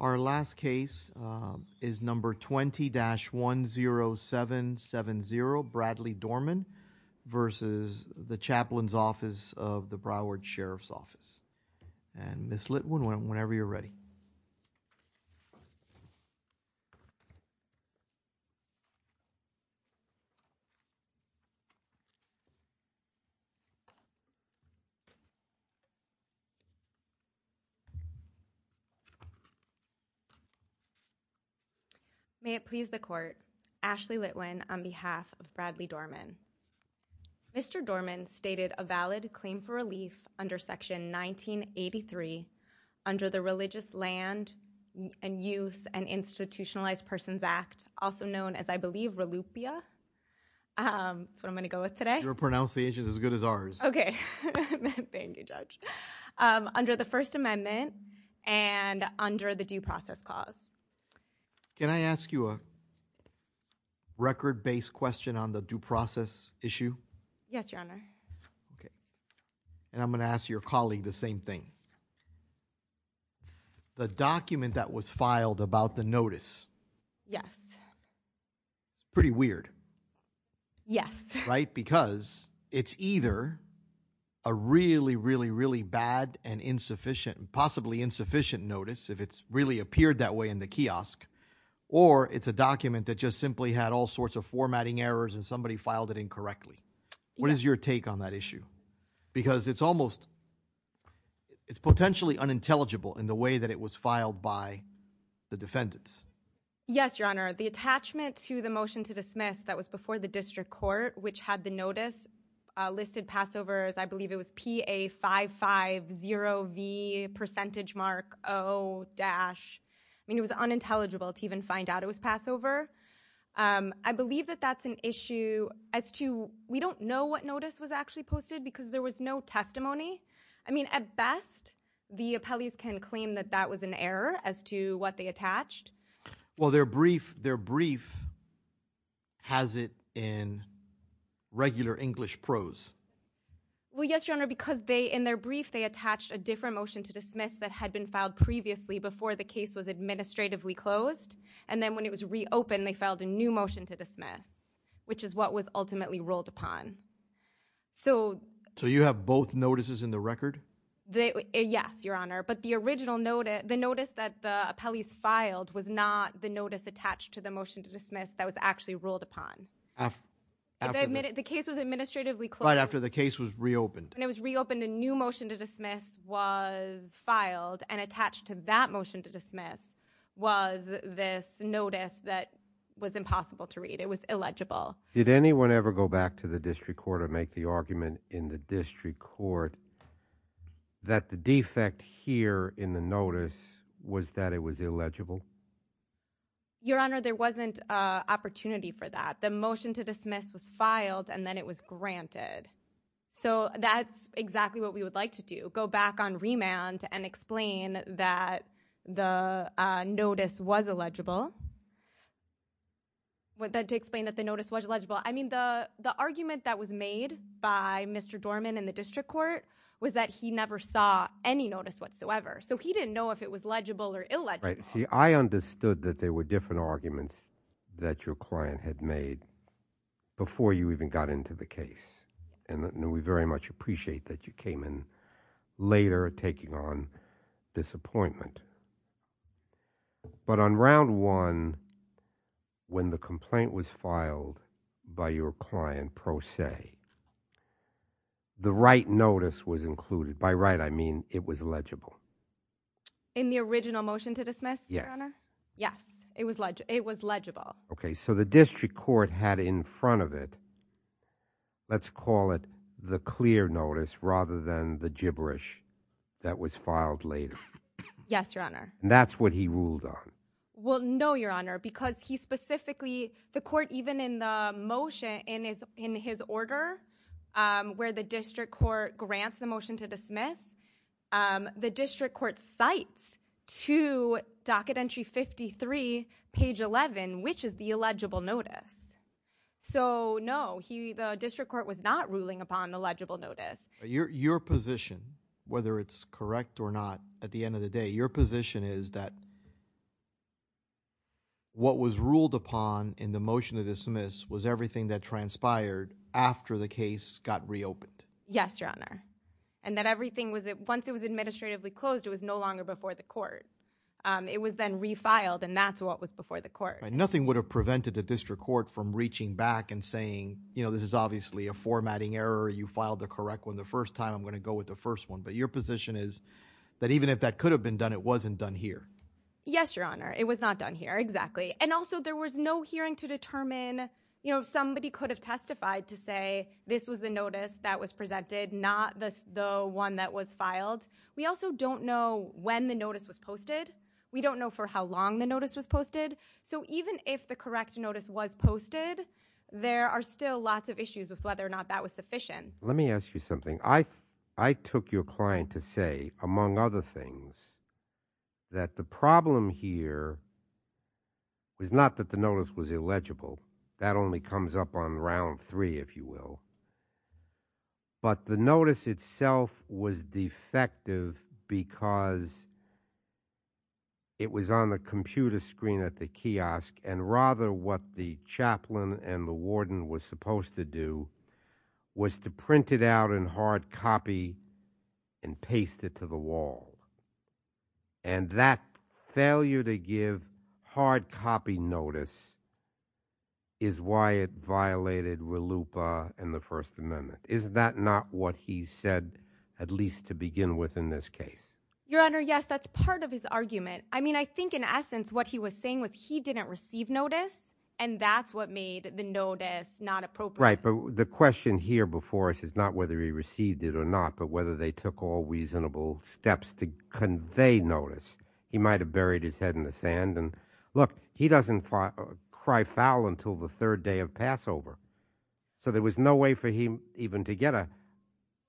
Our last case is number 20-10770, Bradley Dorman, versus the chaplain's office. And Ms. Litwin, whenever you're ready. May it please the court, Ashley Litwin on behalf of Bradley Dorman. Mr. Dorman stated a valid claim for relief under section 1983 under the Religious Land and Use and Institutionalized Persons Act, also known as, I believe, RELUPIA, that's what I'm going to go with today. Your pronunciation is as good as ours. Okay. Thank you, Judge. Under the First Amendment and under the Due Process Clause. Can I ask you a record-based question on the due process issue? Yes, Your Honor. Okay. And I'm going to ask your colleague the same thing. The document that was filed about the notice. Yes. Pretty weird. Yes. Right? Because it's either a really, really, really bad and insufficient, possibly insufficient notice if it's really appeared that way in the kiosk, or it's a document that just simply had all sorts of formatting errors and somebody filed it incorrectly. What is your take on that issue? Because it's almost, it's potentially unintelligible in the way that it was filed by the defendants. Yes, Your Honor. The attachment to the motion to dismiss that was before the district court, which had the I mean, it was unintelligible to even find out it was Passover. I believe that that's an issue as to, we don't know what notice was actually posted because there was no testimony. I mean, at best, the appellees can claim that that was an error as to what they attached. Well, their brief, their brief has it in regular English prose. Well, yes, Your Honor, because they, in their brief, they attached a different motion to dismiss previously before the case was administratively closed. And then when it was reopened, they filed a new motion to dismiss, which is what was ultimately ruled upon. So you have both notices in the record? Yes, Your Honor. But the original notice, the notice that the appellees filed was not the notice attached to the motion to dismiss that was actually ruled upon. The case was administratively closed. Right after the case was reopened. When it was reopened, a new motion to dismiss was filed and attached to that motion to dismiss was this notice that was impossible to read. It was illegible. Did anyone ever go back to the district court or make the argument in the district court that the defect here in the notice was that it was illegible? Your Honor, there wasn't an opportunity for that. The motion to dismiss was filed and then it was granted. So that's exactly what we would like to do. Go back on remand and explain that the notice was illegible, to explain that the notice was illegible. I mean, the argument that was made by Mr. Dorman in the district court was that he never saw any notice whatsoever. So he didn't know if it was legible or illegible. Right. See, I understood that there were different arguments that your client had made before you even got into the case. And we very much appreciate that you came in later taking on this appointment. But on round one, when the complaint was filed by your client, pro se, the right notice was included. By right, I mean it was legible. In the original motion to dismiss, Your Honor? Yes. Yes. It was legible. Okay. So the district court had in front of it, let's call it the clear notice rather than the gibberish that was filed later. Yes, Your Honor. That's what he ruled on. Well, no, Your Honor, because he specifically, the court, even in the motion in his order where the district court grants the motion to dismiss, the district court cites to docket entry 53, page 11, which is the illegible notice. So no, the district court was not ruling upon the legible notice. Your position, whether it's correct or not, at the end of the day, your position is that what was ruled upon in the motion to dismiss was everything that transpired after the case got reopened. Yes, Your Honor. And that everything was, once it was administratively closed, it was no longer before the court. It was then refiled and that's what was before the court. Nothing would have prevented the district court from reaching back and saying, you know, this is obviously a formatting error. You filed the correct one the first time. I'm going to go with the first one. But your position is that even if that could have been done, it wasn't done here. Yes, Your Honor. It was not done here. Exactly. And also there was no hearing to determine, you know, somebody could have testified to say this was the notice that was presented, not the one that was filed. We also don't know when the notice was posted. We don't know for how long the notice was posted. So even if the correct notice was posted, there are still lots of issues with whether or not that was sufficient. Let me ask you something. I took your client to say, among other things, that the problem here was not that the notice was illegible. That only comes up on round three, if you will. But the notice itself was defective because it was on the computer screen at the kiosk and rather what the chaplain and the warden were supposed to do was to print it out in hard copy and paste it to the wall. And that failure to give hard copy notice is why it violated RLUIPA and the First Amendment. Is that not what he said at least to begin with in this case? Your Honor, yes. That's part of his argument. I mean, I think in essence what he was saying was he didn't receive notice and that's what made the notice not appropriate. Right. But the question here before us is not whether he received it or not, but whether they took all reasonable steps to convey notice. He might have buried his head in the sand and look, he doesn't cry foul until the third day of Passover. So there was no way for him even to get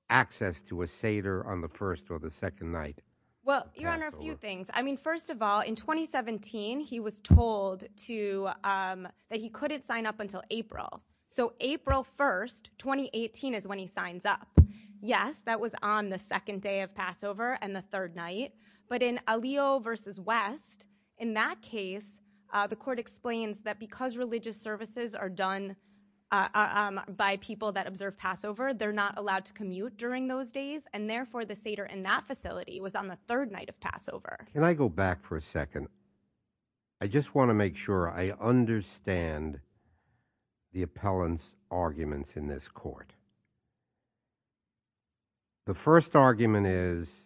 access to a Seder on the first or the second night. Well, Your Honor, a few things. I mean, first of all, in 2017 he was told that he couldn't sign up until April. So April 1st, 2018 is when he signs up. Yes, that was on the second day of Passover and the third night. But in Alio v. West, in that case, the court explains that because religious services are done by people that observe Passover, they're not allowed to commute during those days. And therefore, the Seder in that facility was on the third night of Passover. Can I go back for a second? And I just want to make sure I understand the appellant's arguments in this court. The first argument is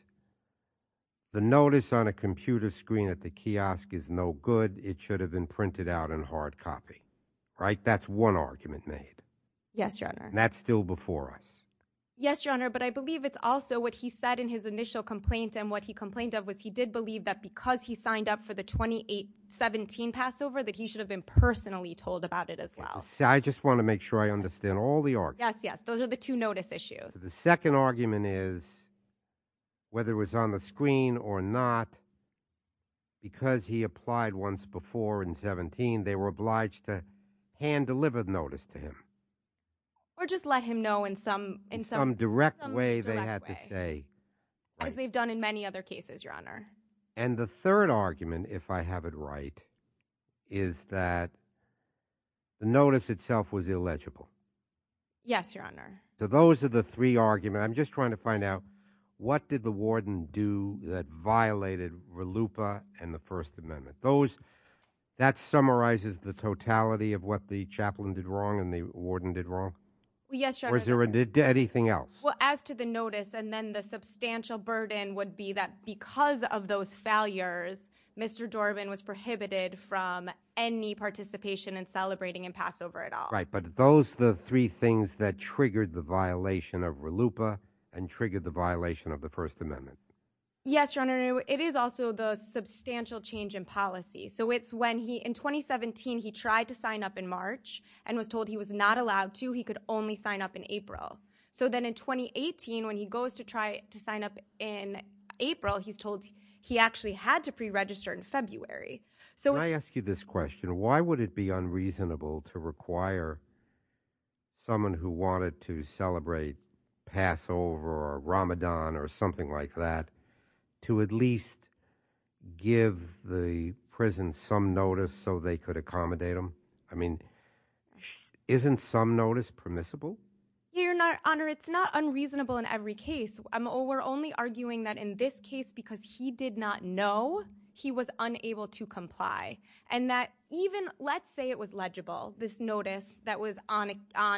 the notice on a computer screen at the kiosk is no good. It should have been printed out in hard copy, right? That's one argument made. Yes, Your Honor. That's still before us. Yes, Your Honor. But I believe it's also what he said in his initial complaint and what he complained of was he did believe that because he signed up for the 2017 Passover, that he should have been personally told about it as well. I just want to make sure I understand all the arguments. Yes, yes. Those are the two notice issues. The second argument is whether it was on the screen or not, because he applied once before in 17, they were obliged to hand deliver the notice to him. Or just let him know in some- In some direct way, they had to say. As they've done in many other cases, Your Honor. And the third argument, if I have it right, is that the notice itself was illegible. Yes, Your Honor. So those are the three arguments. I'm just trying to find out what did the warden do that violated RLUIPA and the First Amendment? That summarizes the totality of what the chaplain did wrong and the warden did wrong? Yes, Your Honor. Or is there anything else? Well, as to the notice, and then the substantial burden would be that because of those failures, Mr. Dorbin was prohibited from any participation in celebrating in Passover at all. Right, but those are the three things that triggered the violation of RLUIPA and triggered the violation of the First Amendment. Yes, Your Honor. It is also the substantial change in policy. So it's when he, in 2017, he tried to sign up in March and was told he was not allowed to, he could only sign up in April. So then in 2018, when he goes to try to sign up in April, he's told he actually had to preregister in February. So it's- Can I ask you this question? Why would it be unreasonable to require someone who wanted to celebrate Passover or Ramadan or something like that to at least give the prison some notice so they could accommodate them? I mean, isn't some notice permissible? Your Honor, it's not unreasonable in every case. We're only arguing that in this case, because he did not know, he was unable to comply. And that even, let's say it was legible, this notice that was on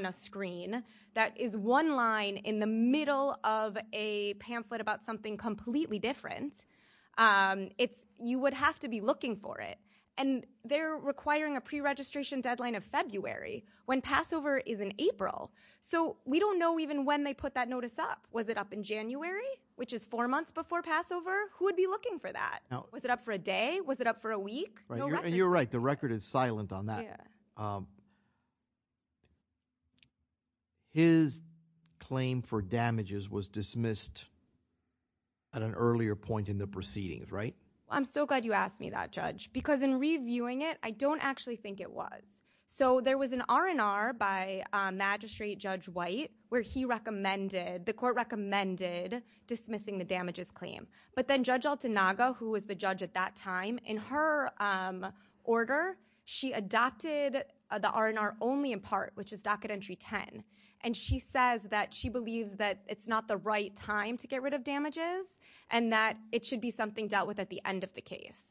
a screen, that is one line in the middle of a pamphlet about something completely different, you would have to be looking for it. And they're requiring a preregistration deadline of February. When Passover is in April. So we don't know even when they put that notice up. Was it up in January, which is four months before Passover? Who would be looking for that? No. Was it up for a day? Was it up for a week? No record. And you're right. The record is silent on that. His claim for damages was dismissed at an earlier point in the proceedings, right? I'm so glad you asked me that, Judge. Because in reviewing it, I don't actually think it was. So there was an R&R by Magistrate Judge White, where he recommended, the court recommended dismissing the damages claim. But then Judge Altanaga, who was the judge at that time, in her order, she adopted the R&R only in part, which is docket entry 10. And she says that she believes that it's not the right time to get rid of damages, and that it should be something dealt with at the end of the case.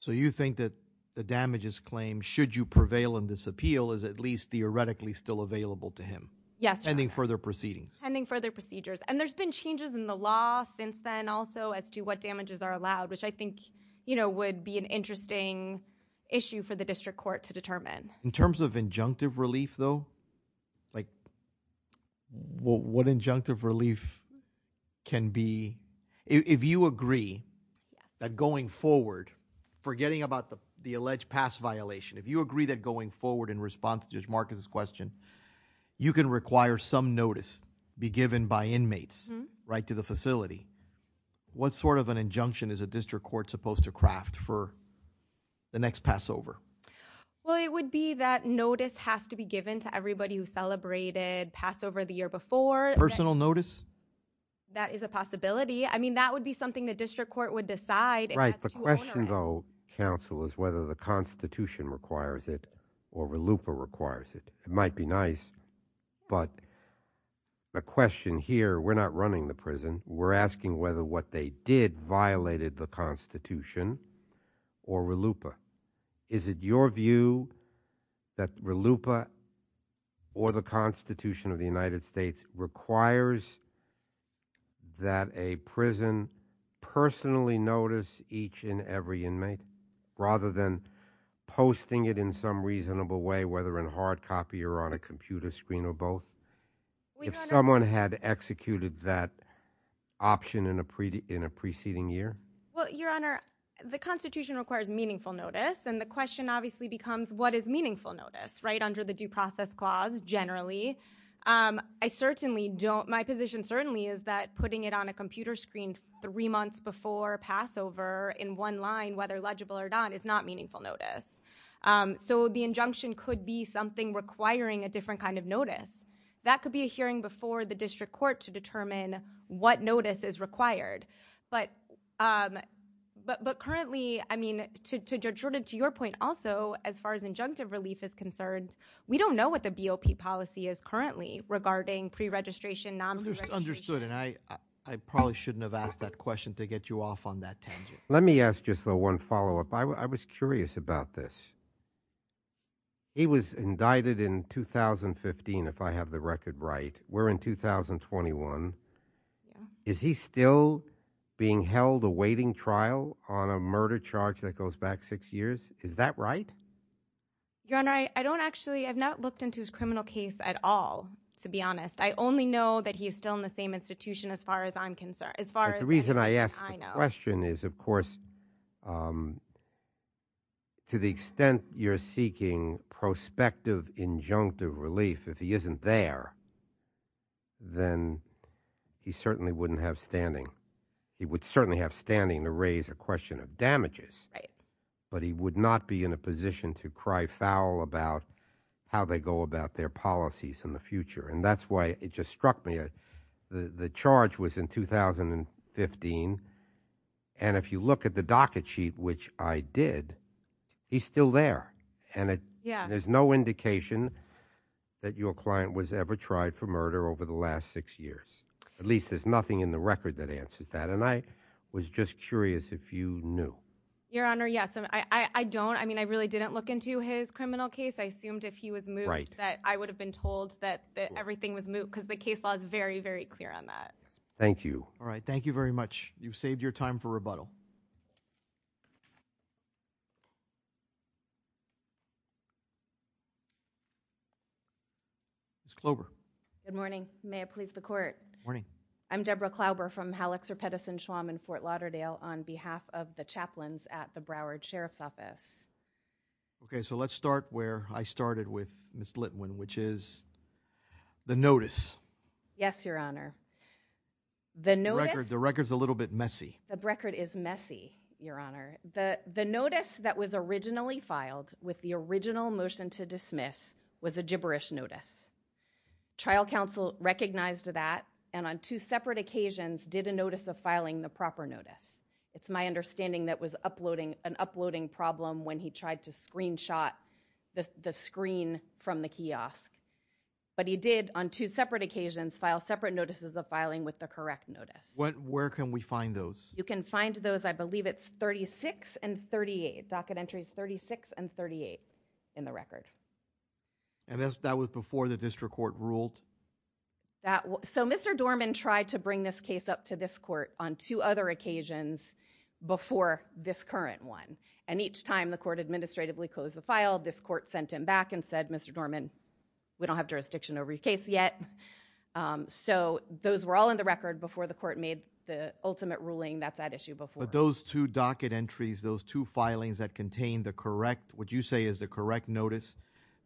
So you think that the damages claim, should you prevail in this appeal, is at least theoretically still available to him? Yes. Pending further proceedings. Pending further procedures. And there's been changes in the law since then also, as to what damages are allowed, which I think would be an interesting issue for the district court to determine. In terms of injunctive relief, though, what injunctive relief can be, if you agree that going forward, forgetting about the alleged pass violation, if you agree that going forward in response to Judge Marcus' question, you can require some notice be given by inmates, right to the facility, what sort of an injunction is a district court supposed to craft for the next Passover? Well, it would be that notice has to be given to everybody who celebrated Passover the year before. Personal notice? That is a possibility. I mean, that would be something the district court would decide if that's too onerous. Right. The question, though, counsel, is whether the Constitution requires it or RLUIPA requires it. It might be nice, but the question here, we're not running the prison. We're asking whether what they did violated the Constitution or RLUIPA. Is it your view that RLUIPA or the Constitution of the United States requires that a prison personally notice each and every inmate rather than posting it in some reasonable way, whether in hard copy or on a computer screen or both, if someone had executed that option in a preceding year? Well, Your Honor, the Constitution requires meaningful notice, and the question obviously becomes what is meaningful notice, right, under the due process clause generally. I certainly don't, my position certainly is that putting it on a computer screen three months before Passover in one line, whether legible or not, is not meaningful notice. So the injunction could be something requiring a different kind of notice. That could be a hearing before the district court to determine what notice is required. But currently, I mean, to your point also, as far as injunctive relief is concerned, we don't know what the BOP policy is currently regarding pre-registration, non-pre-registration. Understood, and I probably shouldn't have asked that question to get you off on that tangent. Let me ask just the one follow-up. I was curious about this. He was indicted in 2015, if I have the record right. We're in 2021. Yeah. Is he still being held awaiting trial on a murder charge that goes back six years? Is that right? Your Honor, I don't actually, I've not looked into his criminal case at all, to be honest. I only know that he's still in the same institution as far as I'm concerned, as far as anything I know. But the reason I asked the question is, of course, to the extent you're seeking prospective injunctive relief, if he isn't there, then he certainly wouldn't have standing. He would certainly have standing to raise a question of damages, but he would not be in a position to cry foul about how they go about their policies in the future. And that's why it just struck me. The charge was in 2015, and if you look at the docket sheet, which I did, he's still there. Yeah. And there's no indication that your client was ever tried for murder over the last six years. At least there's nothing in the record that answers that, and I was just curious if you knew. Your Honor, yes. I don't. I mean, I really didn't look into his criminal case. I assumed if he was moot that I would have been told that everything was moot, because the case law is very, very clear on that. Thank you. All right. Thank you very much. Ms. Klober. Good morning. May it please the Court. Good morning. I'm Deborah Klober from Hallexer, Pettison, Schwamm, and Fort Lauderdale on behalf of the chaplains at the Broward Sheriff's Office. Okay. So let's start where I started with Ms. Litwin, which is the notice. Yes, Your Honor. The record's a little bit messy. The record is messy, Your Honor. The notice that was originally filed with the original motion to dismiss was a gibberish notice. Trial counsel recognized that, and on two separate occasions did a notice of filing the proper notice. It's my understanding that was an uploading problem when he tried to screenshot the screen from the kiosk. But he did, on two separate occasions, file separate notices of filing with the correct notice. Where can we find those? You can find those, I believe it's 36 and 38, docket entries 36 and 38 in the record. And that was before the district court ruled? So Mr. Dorman tried to bring this case up to this court on two other occasions before this current one, and each time the court administratively closed the file, this court sent him back and said, Mr. Dorman, we don't have jurisdiction over your case yet. So, those were all in the record before the court made the ultimate ruling that's at issue before. But those two docket entries, those two filings that contained the correct, what you say is the correct notice,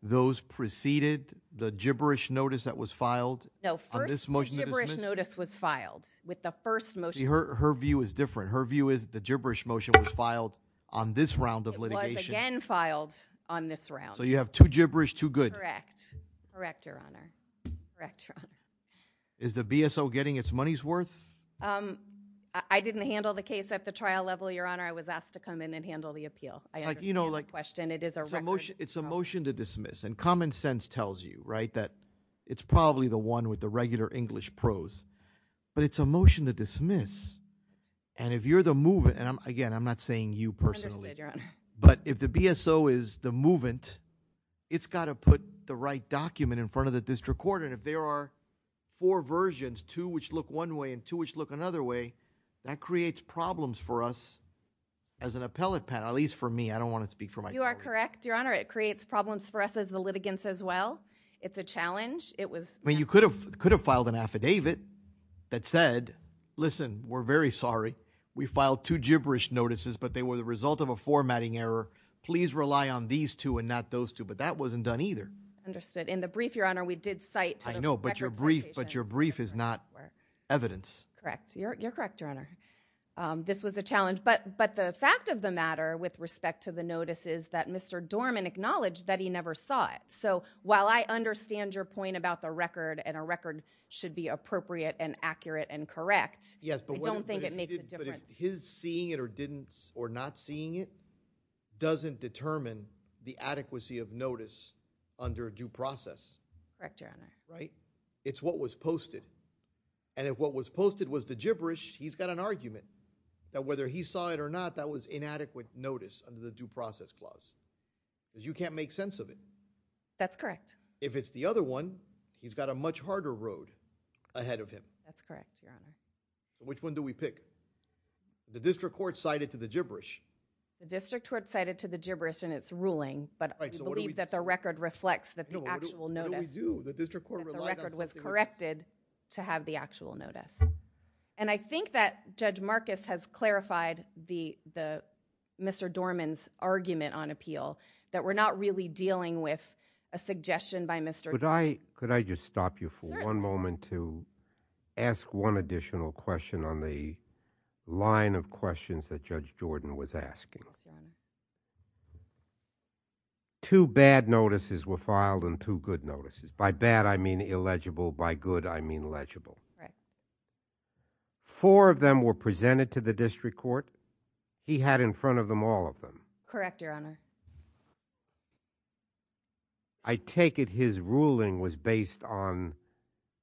those preceded the gibberish notice that was filed? No, first the gibberish notice was filed with the first motion. Her view is different. Her view is the gibberish motion was filed on this round of litigation. It was again filed on this round. So you have two gibberish, two good. Correct. Correct, Your Honor. Correct, Your Honor. Is the BSO getting its money's worth? I didn't handle the case at the trial level, Your Honor. I was asked to come in and handle the appeal. I understand your question. It is a record. It's a motion to dismiss, and common sense tells you, right, that it's probably the one with the regular English prose. But it's a motion to dismiss, and if you're the movant, and again, I'm not saying you personally, but if the BSO is the movant, it's got to put the right document in front of the district court, and if there are four versions, two which look one way and two which look another way, that creates problems for us as an appellate panel, at least for me. I don't want to speak for myself. You are correct, Your Honor. It creates problems for us as the litigants as well. It's a challenge. I mean, you could have filed an affidavit that said, listen, we're very sorry. We filed two gibberish notices, but they were the result of a formatting error. Understood. But in the brief, Your Honor, we did cite the records location. I know, but your brief is not evidence. Correct. You're correct, Your Honor. This was a challenge. But the fact of the matter with respect to the notice is that Mr. Dorman acknowledged that he never saw it. So while I understand your point about the record, and a record should be appropriate and accurate and correct, I don't think it makes a difference. Yes, but if his seeing it or not seeing it doesn't determine the adequacy of notice under due process. Correct, Your Honor. Right? It's what was posted. And if what was posted was the gibberish, he's got an argument that whether he saw it or not, that was inadequate notice under the due process clause, because you can't make sense of it. That's correct. If it's the other one, he's got a much harder road ahead of him. That's correct, Your Honor. Which one do we pick? The district court cited to the gibberish. The district court cited to the gibberish in its ruling, but we believe that the record reflects that the actual notice. No, what do we do? The district court relied on something else. That the record was corrected to have the actual notice. And I think that Judge Marcus has clarified Mr. Dorman's argument on appeal, that we're not really dealing with a suggestion by Mr. Dorman. Could I just stop you for one moment to ask one additional question on the line of questions that Judge Jordan was asking? Yes, Your Honor. Two bad notices were filed and two good notices. By bad, I mean illegible. By good, I mean legible. Four of them were presented to the district court. He had in front of them all of them. Correct, Your Honor. I take it his ruling was based on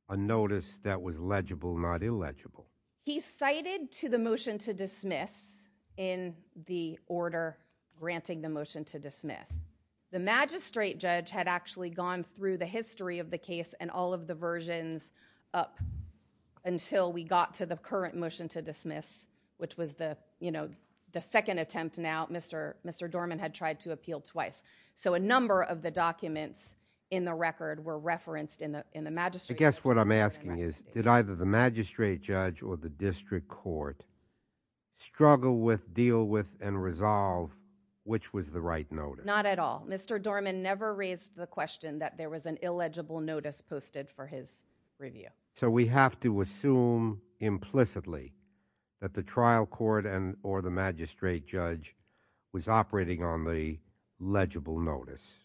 a notice that was legible, not illegible. He cited to the motion to dismiss in the order granting the motion to dismiss. The magistrate judge had actually gone through the history of the case and all of the versions up until we got to the current motion to dismiss, which was the second attempt now. Mr. Dorman had tried to appeal twice. So a number of the documents in the record were referenced in the magistrate's. I guess what I'm asking is, did either the magistrate judge or the district court struggle with, deal with, and resolve which was the right notice? Not at all. Mr. Dorman never raised the question that there was an illegible notice posted for his review. So we have to assume implicitly that the trial court or the magistrate judge was operating on the legible notice,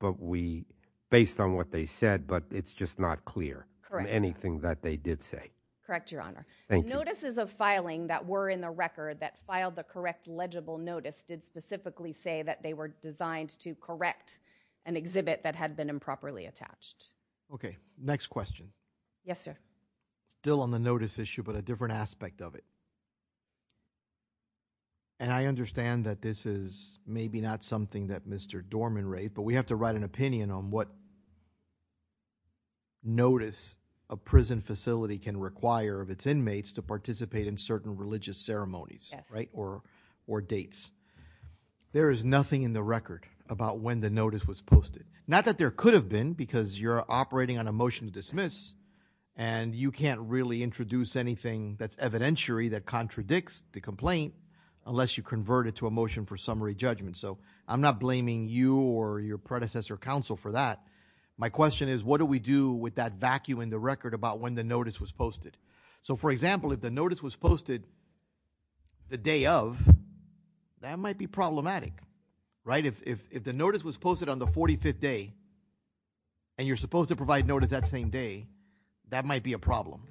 but we, based on what they said, but it's just not clear from anything that they did say. Correct, Your Honor. Thank you. The notices of filing that were in the record that filed the correct legible notice did specifically say that they were designed to correct an exhibit that had been improperly attached. Okay. Next question. Yes, sir. Still on the notice issue, but a different aspect of it. And I understand that this is maybe not something that Mr. Dorman raised, but we have to write an opinion on what notice a prison facility can require of its inmates to participate in certain religious ceremonies, right, or dates. There is nothing in the record about when the notice was posted. Not that there could have been, because you're operating on a motion to dismiss, and you can't really introduce anything that's evidentiary that contradicts the complaint unless you convert it to a motion for summary judgment. So I'm not blaming you or your predecessor counsel for that. My question is, what do we do with that vacuum in the record about when the notice was posted? So for example, if the notice was posted the day of, that might be problematic, right? If the notice was posted on the 45th day, and you're supposed to provide notice that same day, that might be a problem.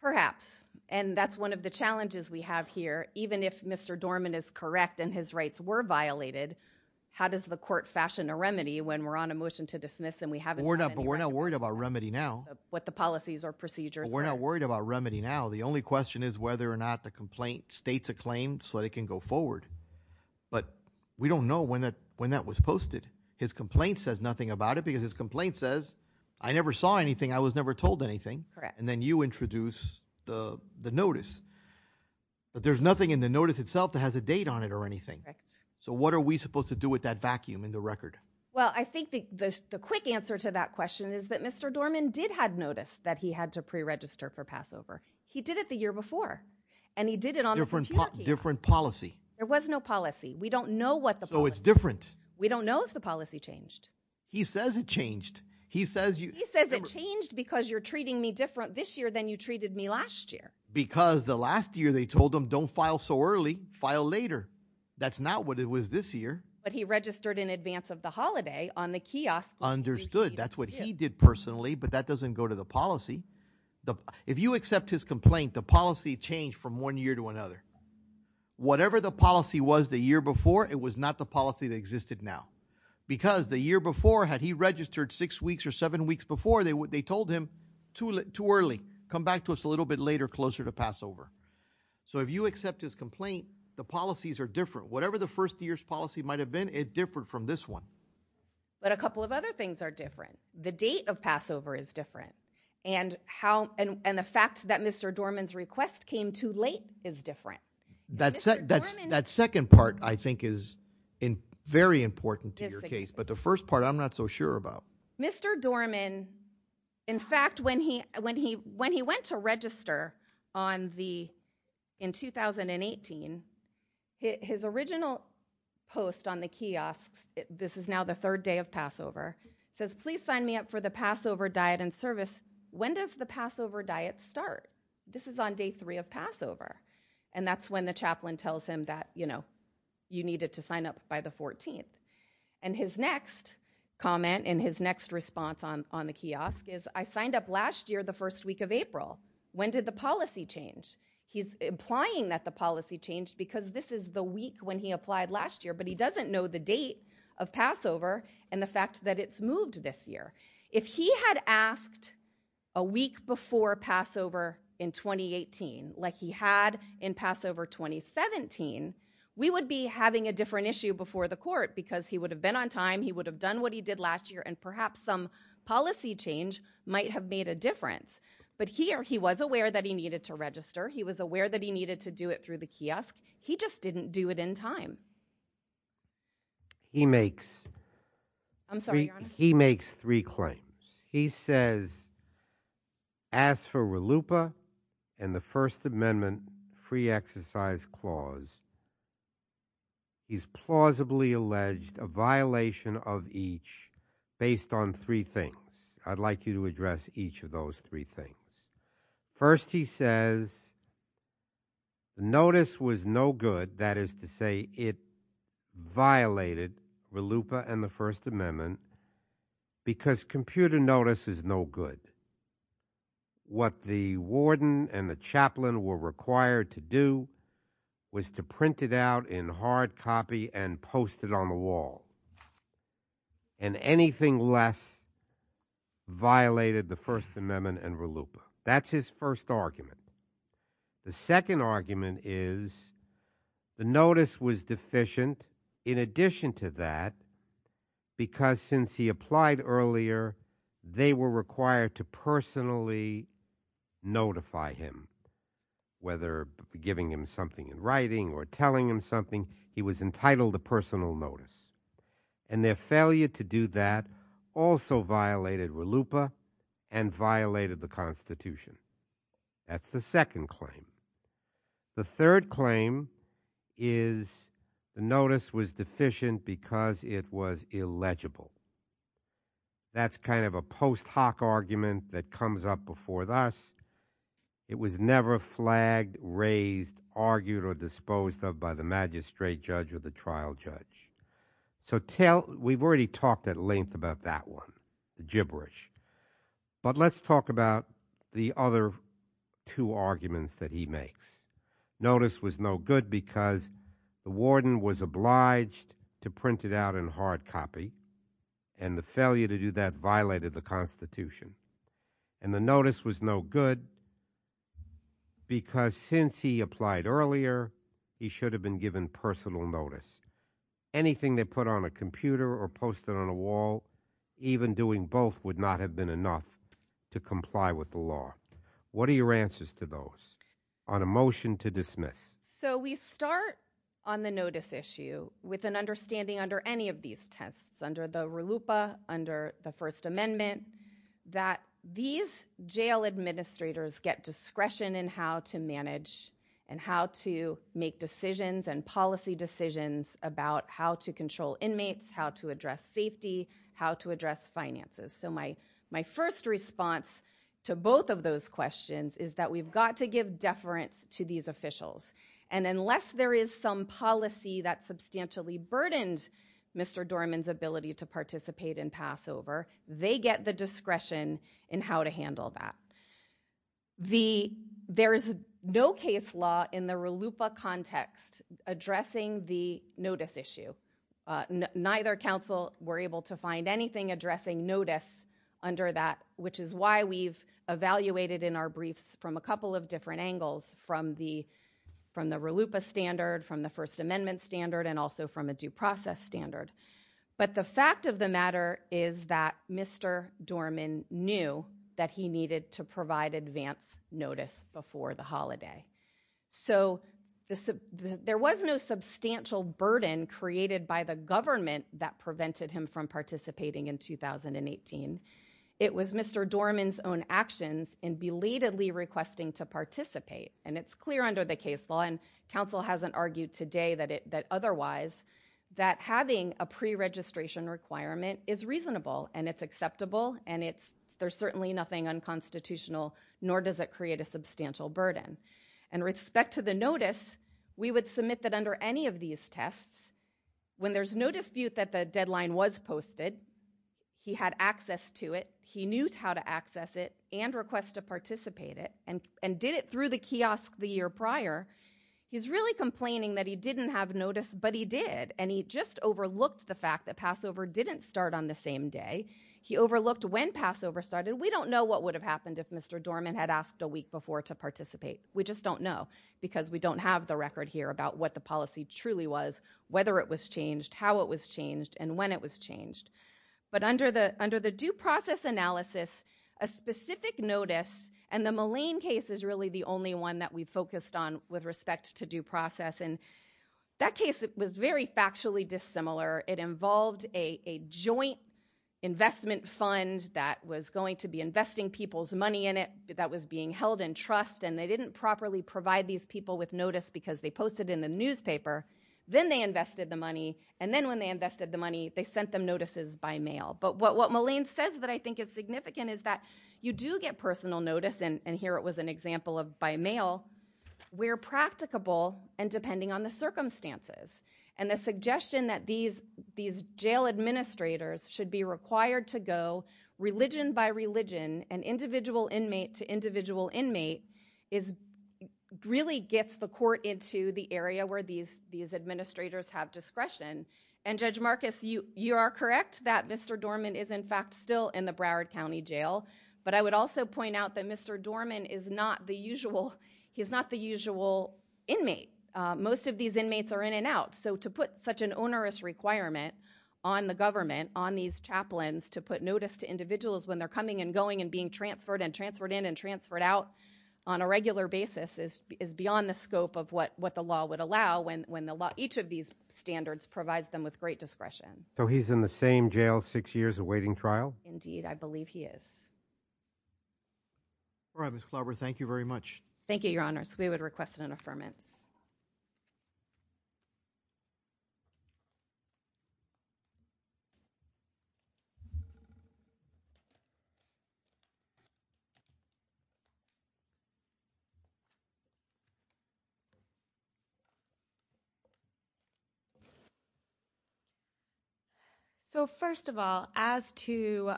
Perhaps. And that's one of the challenges we have here. Even if Mr. Dorman is correct and his rights were violated, how does the court fashion a remedy when we're on a motion to dismiss and we haven't done any right? Well, we're not worried about remedy now. What the policies or procedures are. We're not worried about remedy now. The only question is whether or not the complaint states a claim so that it can go forward. But we don't know when that was posted. His complaint says nothing about it because his complaint says, I never saw anything, I was never told anything, and then you introduce the notice. But there's nothing in the notice itself that has a date on it or anything. So what are we supposed to do with that vacuum in the record? Well, I think the quick answer to that question is that Mr. Dorman did have notice that he had to pre-register for Passover. He did it the year before. And he did it on the- Different policy. There was no policy. We don't know what the policy is. So it's different. We don't know if the policy changed. He says it changed. He says you- He says it changed because you're treating me different this year than you treated me last year. Because the last year they told him, don't file so early, file later. That's not what it was this year. But he registered in advance of the holiday on the kiosk. Understood, that's what he did personally, but that doesn't go to the policy. If you accept his complaint, the policy changed from one year to another. Whatever the policy was the year before, it was not the policy that existed now. Because the year before, had he registered six weeks or seven weeks before, they told him too early, come back to us a little bit later, closer to Passover. So if you accept his complaint, the policies are different. Whatever the first year's policy might have been, it's different from this one. But a couple of other things are different. The date of Passover is different. And the fact that Mr. Dorman's request came too late is different. Mr. Dorman- That second part, I think, is very important to your case. But the first part, I'm not so sure about. Mr. Dorman, in fact, when he went to register on the, in 2018, his original post on the kiosks, this is now the third day of Passover, says please sign me up for the Passover diet and service, when does the Passover diet start? This is on day three of Passover. And that's when the chaplain tells him that you needed to sign up by the 14th. And his next comment, and his next response on the kiosk is, I signed up last year, the first week of April. When did the policy change? He's implying that the policy changed because this is the week when he applied last year, but he doesn't know the date of Passover and the fact that it's moved this year. If he had asked a week before Passover in 2018 like he had in Passover 2017, we would be having a different issue before the court because he would have been on time, he would have done what he did last year, and perhaps some policy change might have made a difference. But here, he was aware that he needed to register. He was aware that he needed to do it through the kiosk. He just didn't do it in time. He makes three claims. He says, as for RLUIPA and the First Amendment Free Exercise Clause, he's plausibly alleged a violation of each based on three things. I'd like you to address each of those three things. First he says, the notice was no good, that is to say it violated RLUIPA and the First Amendment because computer notice is no good. What the warden and the chaplain were required to do was to print it out in hard copy and post it on the wall. And anything less violated the First Amendment and RLUIPA. That's his first argument. The second argument is, the notice was deficient in addition to that. Because since he applied earlier, they were required to personally notify him. Whether giving him something in writing or telling him something, he was entitled to personal notice. And their failure to do that also violated RLUIPA and violated the Constitution. That's the second claim. The third claim is the notice was deficient because it was illegible. That's kind of a post hoc argument that comes up before us. It was never flagged, raised, argued, or disposed of by the magistrate judge or the trial judge. So we've already talked at length about that one, the gibberish. But let's talk about the other two arguments that he makes. Notice was no good because the warden was obliged to print it out in hard copy. And the failure to do that violated the Constitution. And the notice was no good because since he applied earlier, he should have been given personal notice. Anything they put on a computer or posted on a wall, even doing both would not have been enough to comply with the law. What are your answers to those on a motion to dismiss? So we start on the notice issue with an understanding under any of these tests, under the RLUIPA, under the First Amendment, that these jail administrators get discretion in how to manage and how to make decisions and policy decisions about how to control inmates, how to address safety, how to address finances. So my first response to both of those questions is that we've got to give deference to these officials. And unless there is some policy that substantially burdened Mr. Dorman's ability to participate in Passover, they get the discretion in how to handle that. There is no case law in the RLUIPA context addressing the notice issue. Neither council were able to find anything addressing notice under that, which is why we've evaluated in our briefs from a couple of different angles, from the RLUIPA standard, from the First Amendment standard, and also from a due process standard. But the fact of the matter is that Mr. Dorman knew that he needed to provide advance notice before the holiday. So there was no substantial burden created by the government that prevented him from participating in 2018. It was Mr. Dorman's own actions in belatedly requesting to participate. And it's clear under the case law, and council hasn't argued today that otherwise, that having a pre-registration requirement is reasonable, and it's acceptable, and there's certainly nothing unconstitutional, nor does it create a substantial burden. In respect to the notice, we would submit that under any of these tests, when there's no dispute that the deadline was posted, he had access to it. He knew how to access it, and request to participate it, and did it through the kiosk the year prior. He's really complaining that he didn't have notice, but he did, and he just overlooked the fact that Passover didn't start on the same day. He overlooked when Passover started. We don't know what would have happened if Mr. Dorman had asked a week before to participate. We just don't know, because we don't have the record here about what the policy truly was, whether it was changed, how it was changed, and when it was changed. But under the due process analysis, a specific notice, and the Mullane case is really the only one that we focused on with respect to due process. And that case was very factually dissimilar. It involved a joint investment fund that was going to be investing people's money in it, that was being held in trust, and they didn't properly provide these people with notice because they posted in the newspaper, then they invested the money. And then when they invested the money, they sent them notices by mail. But what Mullane says that I think is significant is that you do get personal notice, and here it was an example of by mail, where practicable and depending on the circumstances. And the suggestion that these jail administrators should be required to go religion by religion and individual inmate to individual inmate is really gets the court into the area where these administrators have discretion. And Judge Marcus, you are correct that Mr. Dorman is in fact still in the Broward County Jail. But I would also point out that Mr. Dorman is not the usual, he's not the usual inmate. Most of these inmates are in and out. So to put such an onerous requirement on the government, on these chaplains, to put notice to individuals when they're coming and going and being transferred and transferred in and transferred out on a regular basis is beyond the scope of what the law would allow when each of these standards provides them with great discretion. So he's in the same jail six years awaiting trial? Indeed, I believe he is. All right, Ms. Klobber, thank you very much. Thank you, Your Honor. So we would request an affirmance. So first of all, as to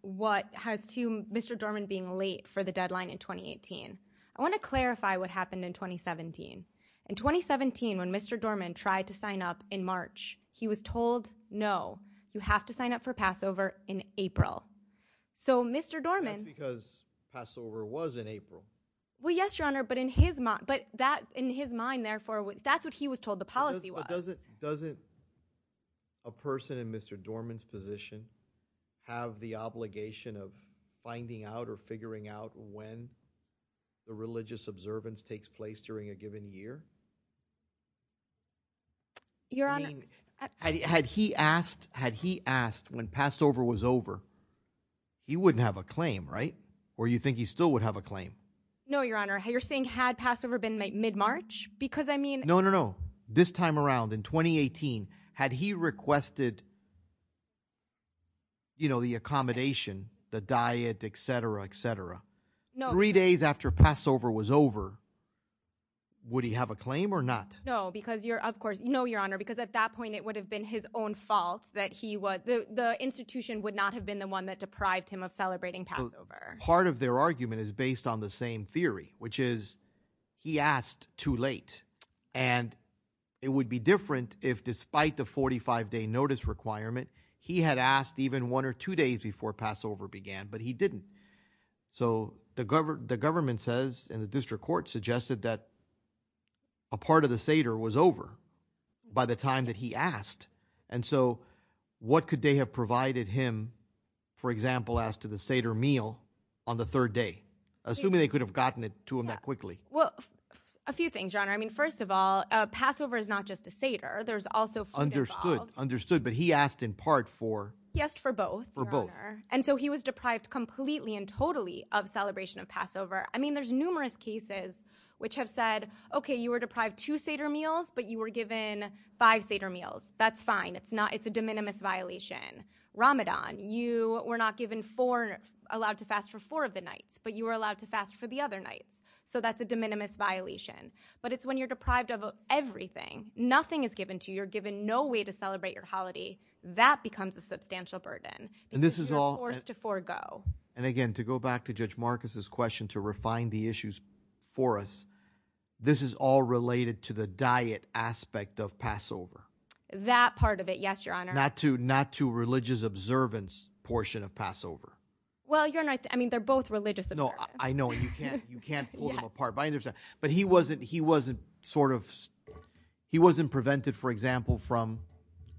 what has to Mr. Dorman being late for the deadline in 2018, I want to clarify what happened in 2017. In 2017 when Mr. Dorman tried to sign up in March, he was told no, you have to sign up for Passover in April. So Mr. Dorman- That's because Passover was in April. Well, yes, Your Honor, but in his mind, therefore, that's what he was told the policy was. Doesn't a person in Mr. Dorman's position have the obligation of finding out or figuring out when the religious observance takes place during a given year? Your Honor- Had he asked when Passover was over, he wouldn't have a claim, right? Or you think he still would have a claim? No, Your Honor, you're saying had Passover been mid-March? Because I mean- No, no, no. This time around in 2018, had he requested the accommodation, the diet, etc., etc., three days after Passover was over, would he have a claim or not? No, because of course, no, Your Honor, because at that point it would have been his own fault that the institution would not have been the one that deprived him of celebrating Passover. Part of their argument is based on the same theory, which is he asked too late. And it would be different if despite the 45-day notice requirement, he had asked even one or two days before Passover began, but he didn't. So the government says, and the district court suggested that a part of the Seder was over by the time that he asked. And so what could they have provided him, for example, as to the Seder meal on the third day? Assuming they could have gotten it to him that quickly. Well, a few things, Your Honor. I mean, first of all, Passover is not just a Seder. There's also food involved. Understood, understood. But he asked in part for- He asked for both, Your Honor. And so he was deprived completely and totally of celebration of Passover. I mean, there's numerous cases which have said, okay, you were deprived two Seder meals, but you were given five Seder meals. That's fine. It's a de minimis violation. Ramadan, you were not allowed to fast for four of the nights, but you were allowed to fast for the other nights. So that's a de minimis violation. But it's when you're deprived of everything. Nothing is given to you. You're given no way to celebrate your holiday. That becomes a substantial burden. And this is all- Because you're forced to forego. And again, to go back to Judge Marcus's question to refine the issues for us, this is all related to the diet aspect of Passover. That part of it, yes, Your Honor. Not to religious observance portion of Passover. Well, you're right. I mean, they're both religious observance. No, I know. And you can't pull them apart. But I understand. But he wasn't sort of, he wasn't prevented, for example, from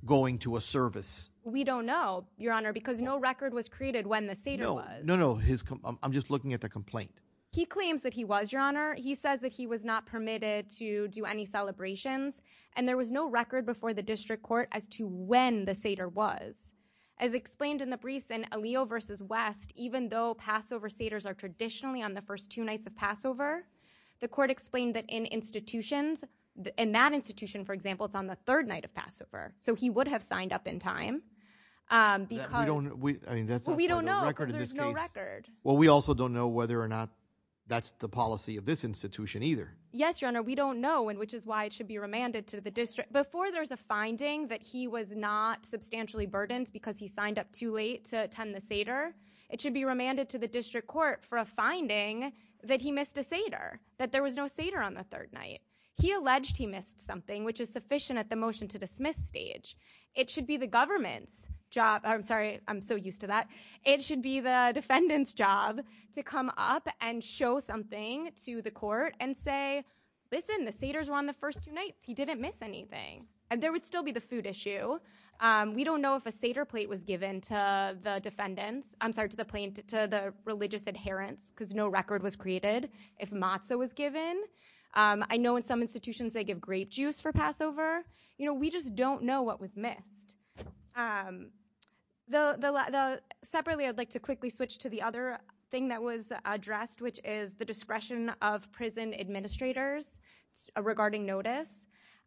going to a service. We don't know, Your Honor, because no record was created when the Seder was. No, no. I'm just looking at the complaint. He claims that he was, Your Honor. He says that he was not permitted to do any celebrations. And there was no record before the district court as to when the Seder was. As explained in the briefs in Aaliyah v. West, even though Passover Seders are traditionally on the first two nights of Passover, the court explained that in institutions, in that institution, for example, it's on the third night of Passover. So he would have signed up in time because- We don't, I mean, that's- Well, we don't know because there's no record. Well, we also don't know whether or not that's the policy of this institution either. Yes, Your Honor. We don't know, and which is why it should be remanded to the district. Before there's a finding that he was not substantially burdened because he signed up too late to attend the Seder, it should be remanded to the district court for a finding that he missed a Seder, that there was no Seder on the third night. He alleged he missed something, which is sufficient at the motion to dismiss stage. It should be the government's job. Oh, I'm sorry. I'm so used to that. It should be the defendant's job to come up and show something to the court and say, listen, the Seders were on the first two nights. He didn't miss anything, and there would still be the food issue. We don't know if a Seder plate was given to the defendants. I'm sorry, to the plaintiff, to the religious adherents, because no record was created if matzo was given. I know in some institutions they give grape juice for Passover. You know, we just don't know what was missed. Separately, I'd like to quickly switch to the other thing that was addressed, which is the discretion of prison administrators regarding notice.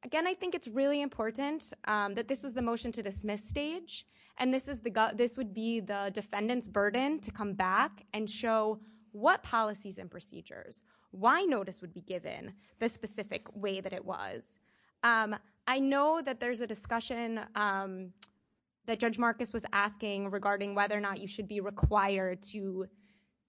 Again, I think it's really important that this was the motion to dismiss stage, and this would be the defendant's burden to come back and show what policies and procedures, why notice would be given the specific way that it was. I know that there's a discussion that Judge Marcus was asking regarding whether or not you should be required to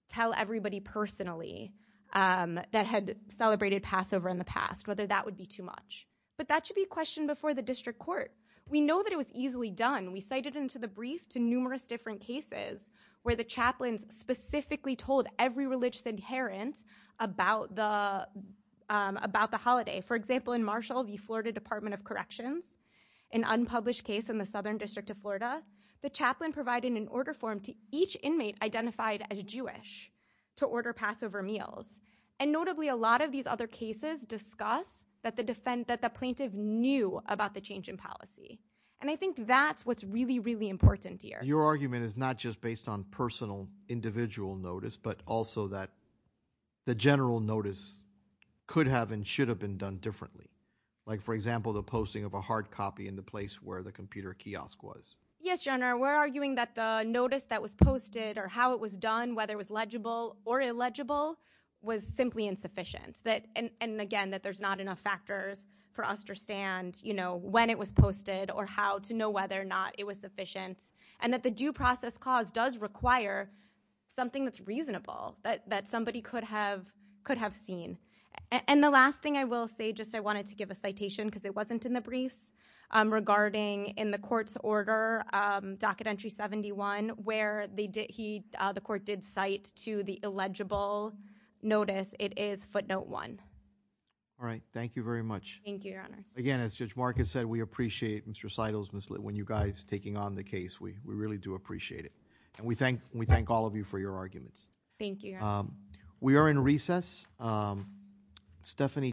tell everybody personally that had celebrated Passover in the past, whether that would be too much. That should be questioned before the district court. We know that it was easily done. We cited into the brief to numerous different cases where the chaplains specifically told every religious adherent about the holiday. For example, in Marshall v. Florida Department of Corrections, an unpublished case in the Southern District of Florida, the chaplain provided an order form to each inmate identified as Jewish to order Passover meals. Notably, a lot of these other cases discuss that the plaintiff knew about the change in policy. I think that's what's really, really important here. Your argument is not just based on personal individual notice, but also that the general notice could have and should have been done differently. Like, for example, the posting of a hard copy in the place where the computer kiosk was. Yes, Your Honor. We're arguing that the notice that was posted or how it was done, whether it was legible or illegible, was simply insufficient. And again, that there's not enough factors for us to understand when it was posted or how to know whether or not it was sufficient. And that the due process clause does require something that's reasonable that somebody could have seen. And the last thing I will say, just I wanted to give a citation because it wasn't in the briefs regarding in the court's order, docket entry 71, where the court did cite to the illegible notice, it is footnote one. All right. Thank you very much. Thank you, Your Honor. Again, as Judge Marcus said, we appreciate Mr. Seidel's mislead. When you guys taking on the case, we really do appreciate it. And we thank all of you for your arguments. Thank you, Your Honor. We are in recess. Stephanie.